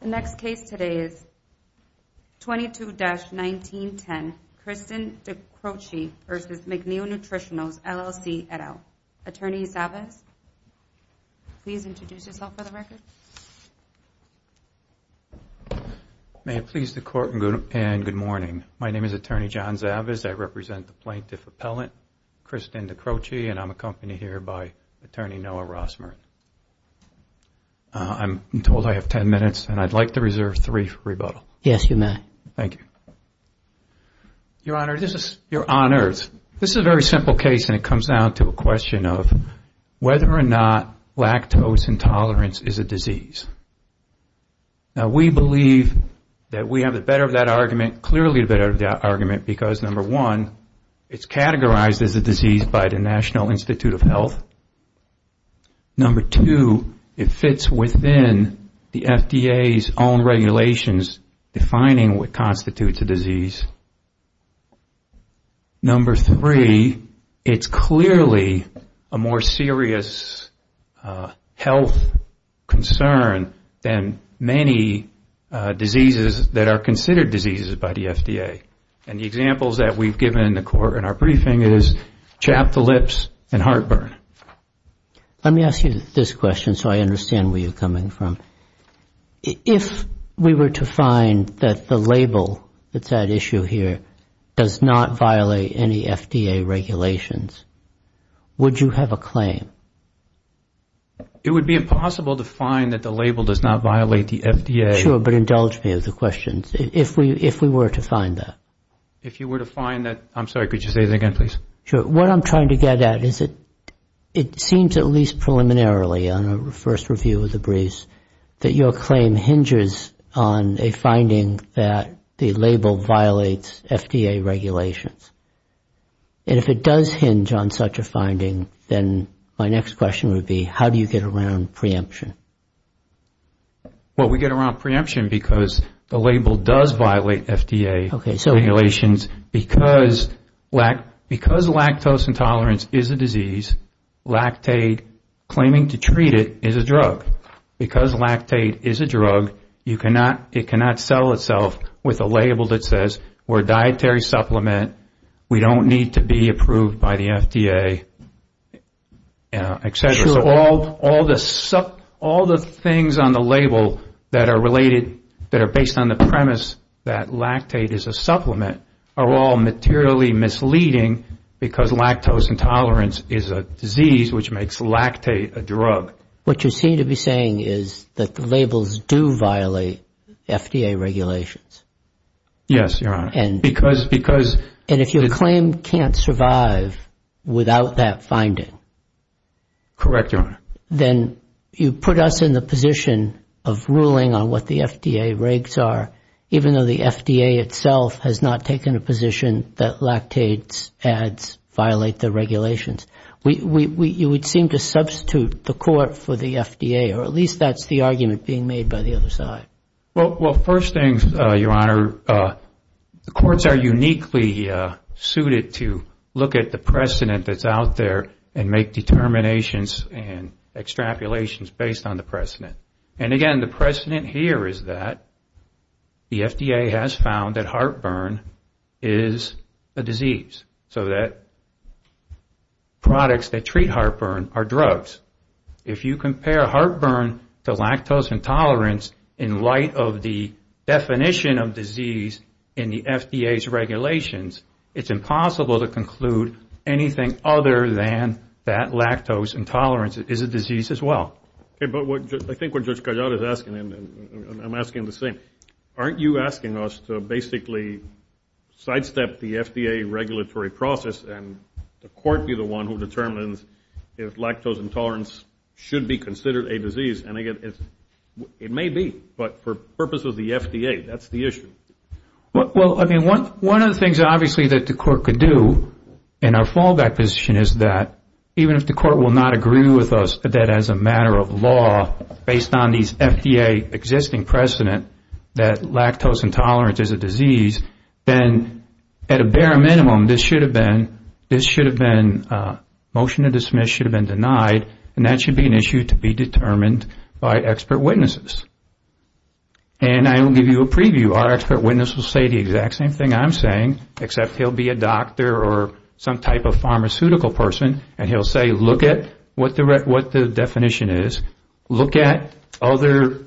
The next case today is 22-1910, Kristen Dicroce v. McNeil Nutritionals, LLC, et al. Attorney Zavas, please introduce yourself for the record. May it please the Court, and good morning. My name is Attorney John Zavas. I represent the Plaintiff Appellant, Kristen Dicroce, and I'm accompanied here by Attorney Noah Rosmer. I'm told I have ten minutes, and I'd like to reserve three for rebuttal. Yes, you may. Thank you. Your Honor, this is on earth. This is a very simple case, and it comes down to a question of whether or not lactose intolerance is a disease. Now, we believe that we have the better of that argument, clearly the better of that argument, because number one, it's categorized as a disease by the National Institute of Health. Number two, it fits within the FDA's own regulations defining what constitutes a disease. Number three, it's clearly a more serious health concern than many diseases that are considered diseases by the FDA. And the examples that we've given in the Court in our briefing is chapped lips and heartburn. Let me ask you this question so I understand where you're coming from. If we were to find that the label that's at issue here does not violate any FDA regulations, would you have a claim? It would be impossible to find that the label does not violate the FDA. Sure, but indulge me of the questions. If we were to find that. If you were to find that. I'm sorry, could you say that again, please? Sure. What I'm trying to get at is it seems, at least preliminarily, on our first review of the briefs, that your claim hinges on a finding that the label violates FDA regulations. And if it does hinge on such a finding, then my next question would be, how do you get around preemption? Well, we get around preemption because the label does violate FDA regulations. Because lactose intolerance is a disease, lactate claiming to treat it is a drug. Because lactate is a drug, it cannot settle itself with a label that says we're a dietary supplement, we don't need to be approved by the FDA, et cetera. So all the things on the label that are related, that are based on the premise that lactate is a supplement, are all materially misleading because lactose intolerance is a disease which makes lactate a drug. What you seem to be saying is that the labels do violate FDA regulations. Yes, Your Honor. And if your claim can't survive without that finding. Correct, Your Honor. Then you put us in the position of ruling on what the FDA regs are, even though the FDA itself has not taken a position that lactate ads violate the regulations. You would seem to substitute the court for the FDA, or at least that's the argument being made by the other side. Well, first things, Your Honor, the courts are uniquely suited to look at the precedent that's out there and make determinations and extrapolations based on the precedent. And again, the precedent here is that the FDA has found that heartburn is a disease. So that products that treat heartburn are drugs. If you compare heartburn to lactose intolerance in light of the definition of disease in the FDA's regulations, it's impossible to conclude anything other than that lactose intolerance is a disease as well. Okay, but I think what Judge Cajal is asking, and I'm asking the same, aren't you asking us to basically sidestep the FDA regulatory process and the court be the one who determines if lactose intolerance should be considered a disease? And again, it may be, but for purposes of the FDA, that's the issue. Well, I mean, one of the things obviously that the court could do in our fallback position is that even if the court will not agree with us that as a matter of law, based on these FDA existing precedent, that lactose intolerance is a disease, then at a bare minimum, this should have been, this should have been, motion to dismiss should have been denied, and that should be an issue to be determined by expert witnesses. And I will give you a preview. Our expert witness will say the exact same thing I'm saying, except he'll be a doctor or some type of pharmaceutical person, and he'll say, look at what the definition is, look at other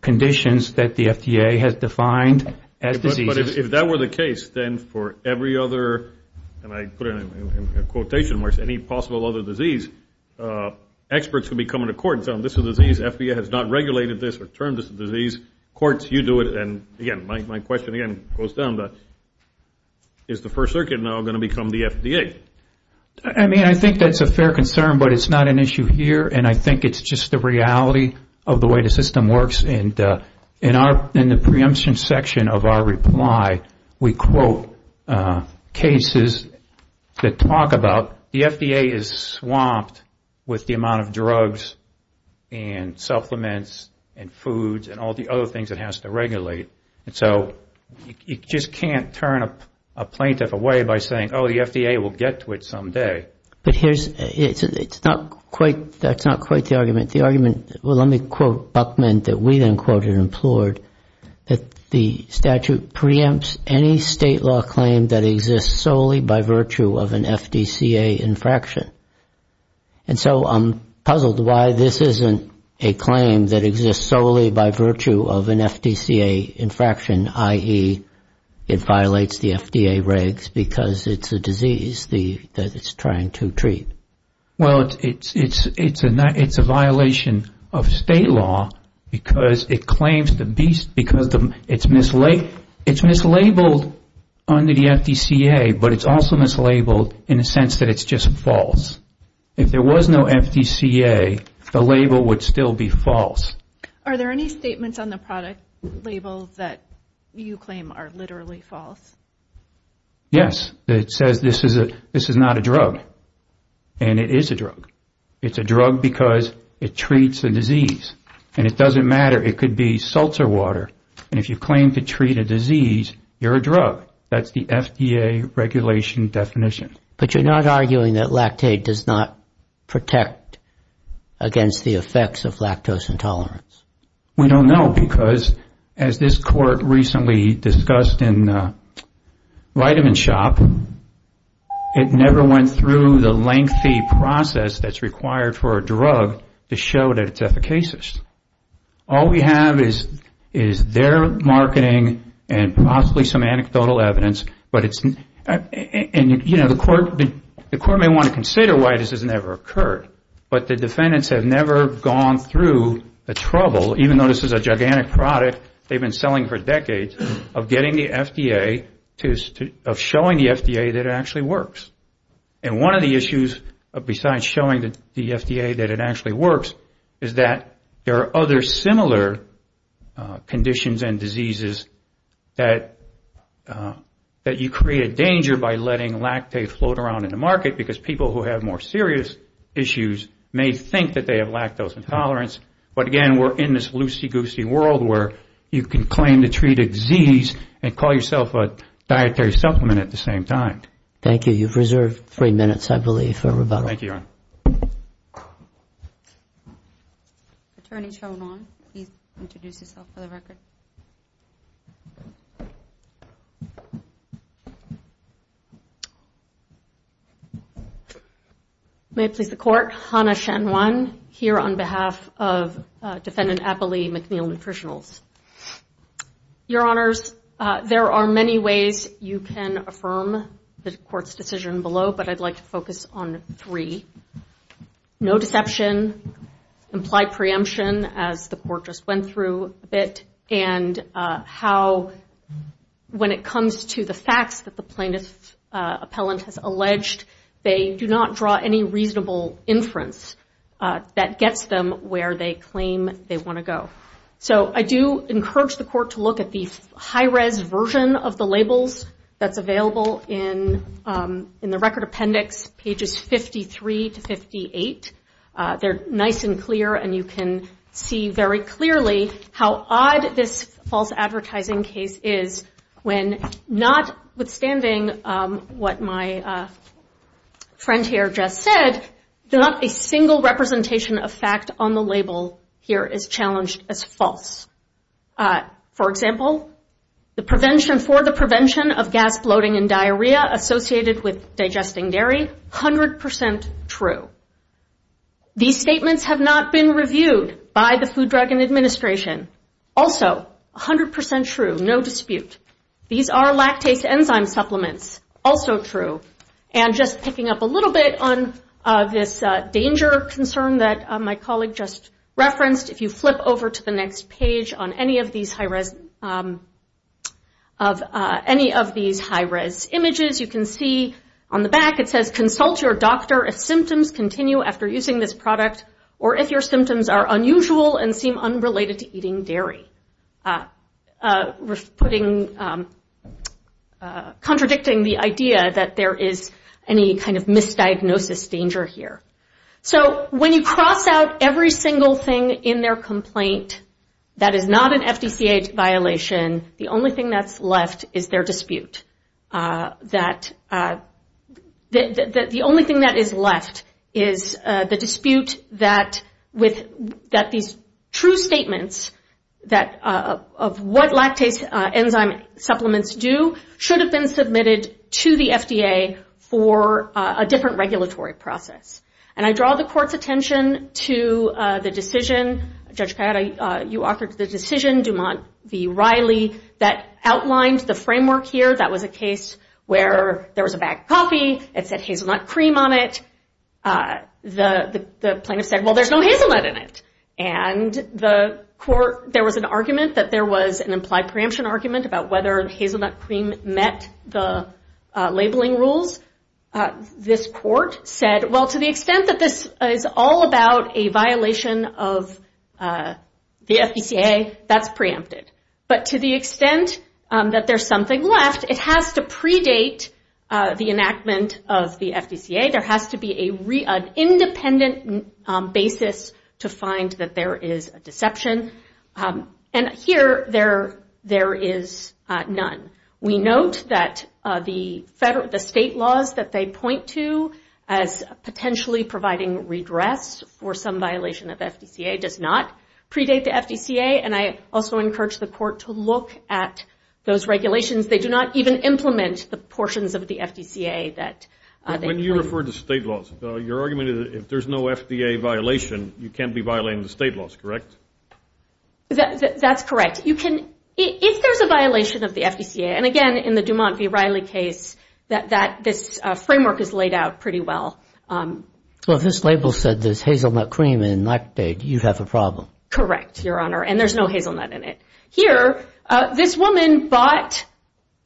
conditions that the FDA has defined as diseases. But if that were the case, then for every other, and I put it in quotation marks, any possible other disease, experts would be coming to court and saying, well, this is a disease, the FDA has not regulated this or termed this a disease. Courts, you do it. And again, my question again goes down to, is the First Circuit now going to become the FDA? I mean, I think that's a fair concern, but it's not an issue here, and I think it's just the reality of the way the system works. And in the preemption section of our reply, we quote cases that talk about the FDA is swamped with the amount of drugs and supplements and foods and all the other things it has to regulate. And so you just can't turn a plaintiff away by saying, oh, the FDA will get to it someday. But here's, it's not quite, that's not quite the argument. The argument, well, let me quote Buckman, that we then quoted and implored, that the statute preempts any state law claim that exists solely by virtue of an FDCA infraction. And so I'm puzzled why this isn't a claim that exists solely by virtue of an FDCA infraction, i.e., it violates the FDA regs because it's a disease that it's trying to treat. Well, it's a violation of state law because it claims the beast, because it's mislabeled under the FDCA, but it's also mislabeled in the sense that it's just false. If there was no FDCA, the label would still be false. Are there any statements on the product label that you claim are literally false? Yes. It says this is not a drug. And it is a drug. It's a drug because it treats a disease. And it doesn't matter. It could be salts or water. And if you claim to treat a disease, you're a drug. That's the FDA regulation definition. But you're not arguing that lactate does not protect against the effects of lactose intolerance? We don't know because, as this court recently discussed in Vitaminshop, it never went through the lengthy process that's required for a drug to show that it's efficacious. All we have is their marketing and possibly some anecdotal evidence. And, you know, the court may want to consider why this has never occurred. But the defendants have never gone through the trouble, even though this is a gigantic product they've been selling for decades, of getting the FDA to show the FDA that it actually works. And one of the issues besides showing the FDA that it actually works is that there are other similar conditions and diseases that you create a danger by letting lactate float around in the market because people who have more serious issues may think that they have lactose intolerance. But, again, we're in this loosey-goosey world where you can claim to treat a disease and call yourself a dietary supplement at the same time. Thank you. You've reserved three minutes, I believe, for rebuttal. Thank you, Your Honor. May it please the Court. Hannah Shen Wan here on behalf of Defendant Appley McNeil Nutritionals. I'm not going to go into the court's decision below, but I'd like to focus on three. No deception, implied preemption, as the court just went through a bit, and how when it comes to the facts that the plaintiff appellant has alleged, they do not draw any reasonable inference that gets them where they claim they want to go. So I do encourage the court to look at the high-res version of the labels that's available in the record appendix, pages 53 to 58. They're nice and clear, and you can see very clearly how odd this false advertising case is when notwithstanding what my friend here just said, not a single representation of fact on the label here is challenged as false. For example, the prevention for the prevention of gas bloating and diarrhea associated with digesting dairy, 100% true. These statements have not been reviewed by the Food Drug Administration. Also, 100% true, no dispute. These are lactase enzyme supplements, also true. And just picking up a little bit on this danger concern that my colleague just referenced, if you flip over to the next page on any of these high-res images, you can see on the back it says consult your doctor if symptoms continue after using this product, or if your symptoms are unusual and seem unrelated to eating dairy, contradicting the idea that there is any kind of misdiagnosis danger here. So when you cross out every single thing in their complaint that is not an FDCA violation, the only thing that's left is their dispute. The only thing that is left is the dispute that these true statements, of what lactase enzyme supplements do, should have been submitted to the FDA for a different regulatory process. And I draw the court's attention to the decision, Judge Kayada, you authored the decision, Dumont v. Riley, that outlined the framework here, that was a case where there was a bag of coffee, it said hazelnut cream on it, the plaintiff said, well there's no hazelnut in it. And there was an argument that there was an implied preemption argument about whether hazelnut cream met the labeling rules. This court said, well to the extent that this is all about a violation of the FDCA, that's preempted. But to the extent that there's something left, it has to predate the enactment of the FDCA. There has to be an independent basis to find that there is a deception. And here there is none. We note that the state laws that they point to as potentially providing redress for some violation of the FDCA does not predate the FDCA. And I also encourage the court to look at those regulations. They do not even implement the portions of the FDCA. When you refer to state laws, your argument is if there's no FDA violation, you can't be violating the state laws, correct? That's correct. If there's a violation of the FDCA, and again in the Dumont v. Riley case, that this framework is laid out pretty well. Well if this label said there's hazelnut cream in lactate, you have a problem. Correct, Your Honor, and there's no hazelnut in it. Here, this woman bought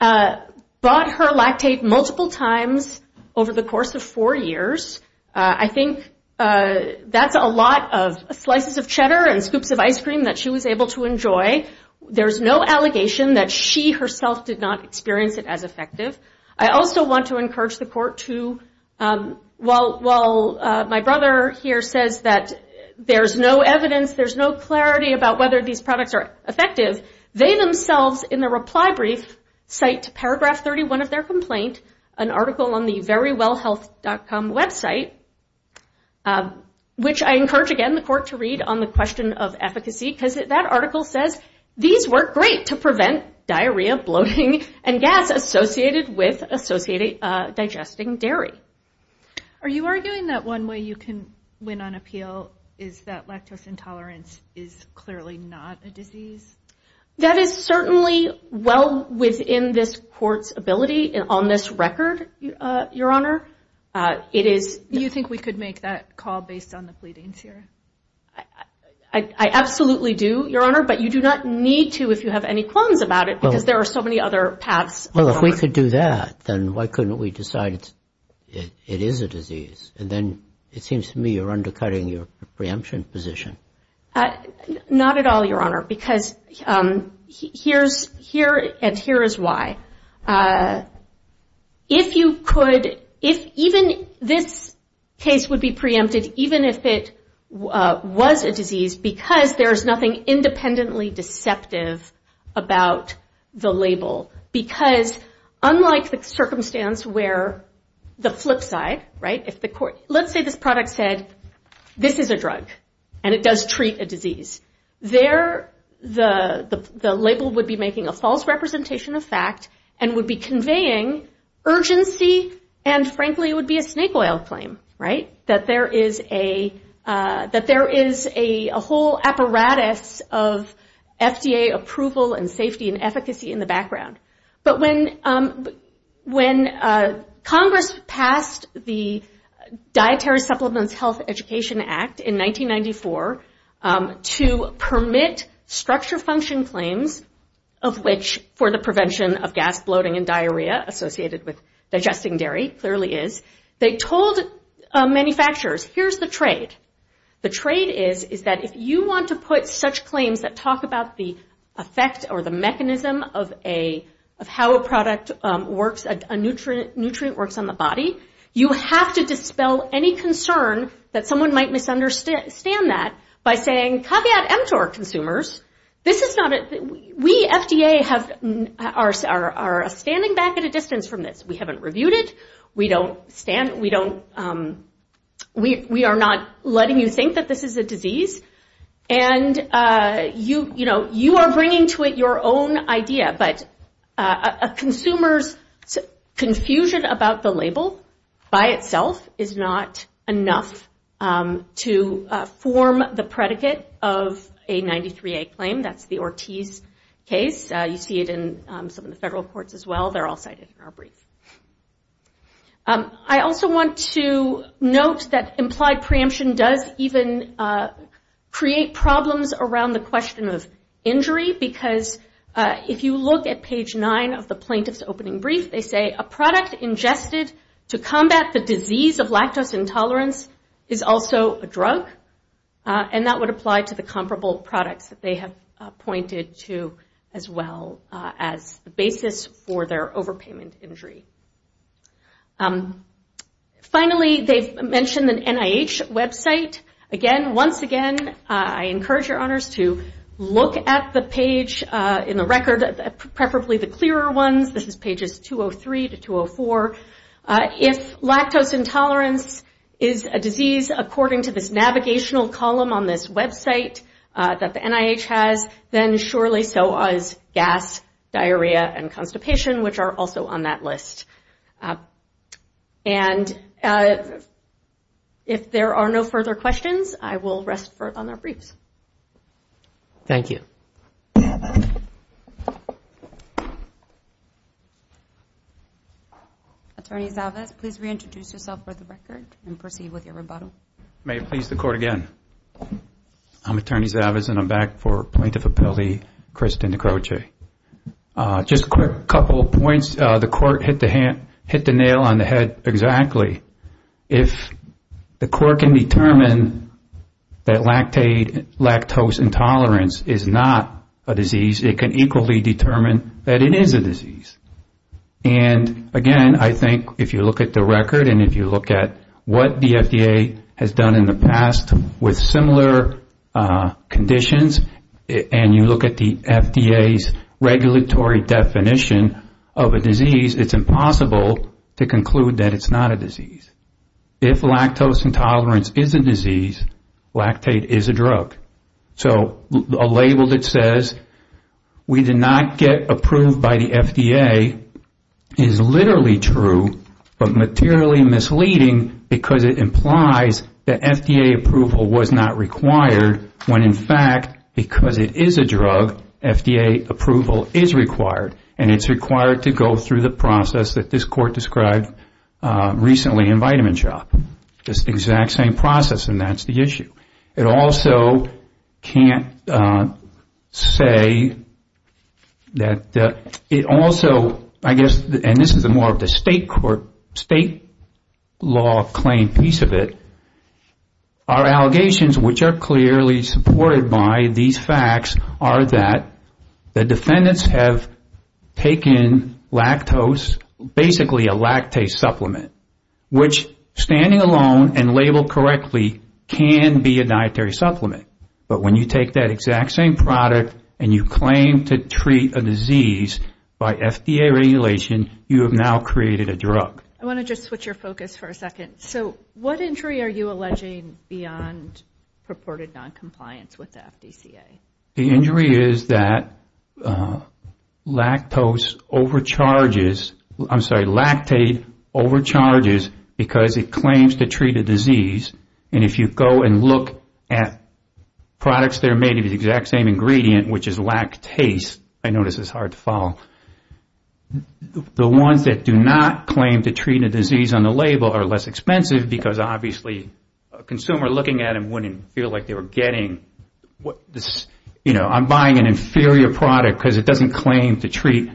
her lactate multiple times over the course of four years. I think that's a lot of slices of cheddar and scoops of ice cream that she was able to enjoy. There's no allegation that she herself did not experience it as effective. I also want to encourage the court to, while my brother here says that there's no evidence, there's no clarity about whether these products are effective, they themselves in the reply brief cite paragraph 31 of their complaint, an article on the verywellhealth.com website, which I encourage again the court to read on the question of efficacy, because that article says these work great to prevent diarrhea, bloating, and gas associated with digesting dairy. Are you arguing that one way you can win on appeal is that lactose intolerance is clearly not a disease? That is certainly well within this court's ability on this record, Your Honor. Do you think we could make that call based on the pleadings here? I absolutely do, Your Honor, but you do not need to if you have any qualms about it, because there are so many other paths. Well, if we could do that, then why couldn't we decide it is a disease? And then it seems to me you're undercutting your preemption position. Not at all, Your Honor, because here and here is why. If you could, if even this case would be preempted, even if it was a disease, because there's nothing independently deceptive about the label, because unlike the circumstance where the flip side, right, does treat a disease, there the label would be making a false representation of fact and would be conveying urgency and frankly would be a snake oil claim, right? That there is a whole apparatus of FDA approval and safety and efficacy in the background. But when Congress passed the Dietary Supplements Health Education Act in 1994, to permit structure function claims of which, for the prevention of gas, bloating and diarrhea associated with digesting dairy, clearly is, they told manufacturers, here's the trade. The trade is, is that if you want to put such claims that talk about the effect or the mechanism of how a product works, a nutrient works on the body, you have to dispel any concern that someone might misunderstand that by saying caveat emptor, consumers. We, FDA, are standing back at a distance from this. We haven't reviewed it. We are not letting you think that this is a disease. And you, you know, you are bringing to it your own idea, but a consumer's confusion about the label by itself is not enough to form the predicate of a 93A claim. That's the Ortiz case. You see it in some of the federal courts as well. They're all cited in our brief. I also want to note that implied preemption does even create problems around the question of injury, because if you look at page nine of the plaintiff's opening brief, they say a product ingested to combat the disease of lactose intolerance is also a drug. And that would apply to the comparable products that they have pointed to as well as the basis for their overpayment injury. Finally, they've mentioned an NIH website. Again, once again, I encourage your honors to look at the page in the record, preferably the clearer ones. This is pages 203 to 204. If lactose intolerance is a disease according to this navigational column on this website that the NIH has, then surely so is gas, diarrhea, and constipation, which are also on that list. If there are no further questions, I will rest on their briefs. Thank you. Attorney Zalvez, please reintroduce yourself for the record and proceed with your rebuttal. Thank you, Attorney Zalvez, and I'm back for Plaintiff Appellee Kristen Decroce. Just a quick couple of points. The court hit the nail on the head exactly. If the court can determine that lactose intolerance is not a disease, it can equally determine that it is a disease. And again, I think if you look at the record and if you look at what the FDA has done in the past with similar conditions and you look at the FDA's regulatory definition of a disease, it's impossible to conclude that it's not a disease. If lactose intolerance is a disease, lactate is a drug. So a label that says we did not get approved by the FDA is literally true, but materially misleading because it implies that FDA approval was not required when in fact, because it is a drug, FDA approval is required. And it's required to go through the process that this court described recently in Vitamin Shop. It's the exact same process and that's the issue. It also can't say that it also, I guess, and this is more of the state law claim piece of it, our allegations which are clearly supported by these facts are that the defendants have taken lactose, basically a lactate supplement, which standing alone and labeled correctly, can be a dietary supplement. But when you take that exact same product and you claim to treat a disease by FDA regulation, you have now created a drug. I want to just switch your focus for a second. So what injury are you alleging beyond purported noncompliance with the FDCA? The injury is that lactose overcharges, I'm sorry, lactate overcharges because it claims to treat a disease. And if you go and look at products that are made of the exact same ingredient, which is lactase, I know this is hard to follow, the ones that do not claim to treat a disease on the label are less expensive because obviously, a consumer looking at them wouldn't feel like they were getting, I'm buying an inferior product because it doesn't claim to treat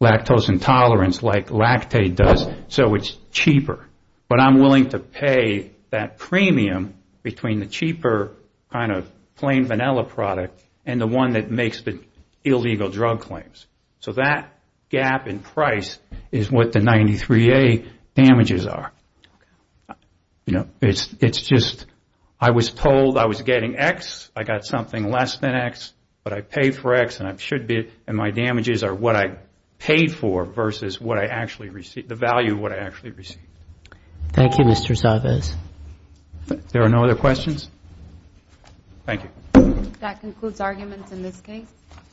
lactose intolerance like lactate does, so it's cheaper. But I'm willing to pay that premium between the cheaper kind of plain vanilla product and the one that makes the illegal drug claims. So that gap in price is what the 93A damages are. It's just I was told I was getting X, I got something less than X, but I paid for X and my damages are what I paid for versus the value of what I actually received. Thank you, Mr. Savez.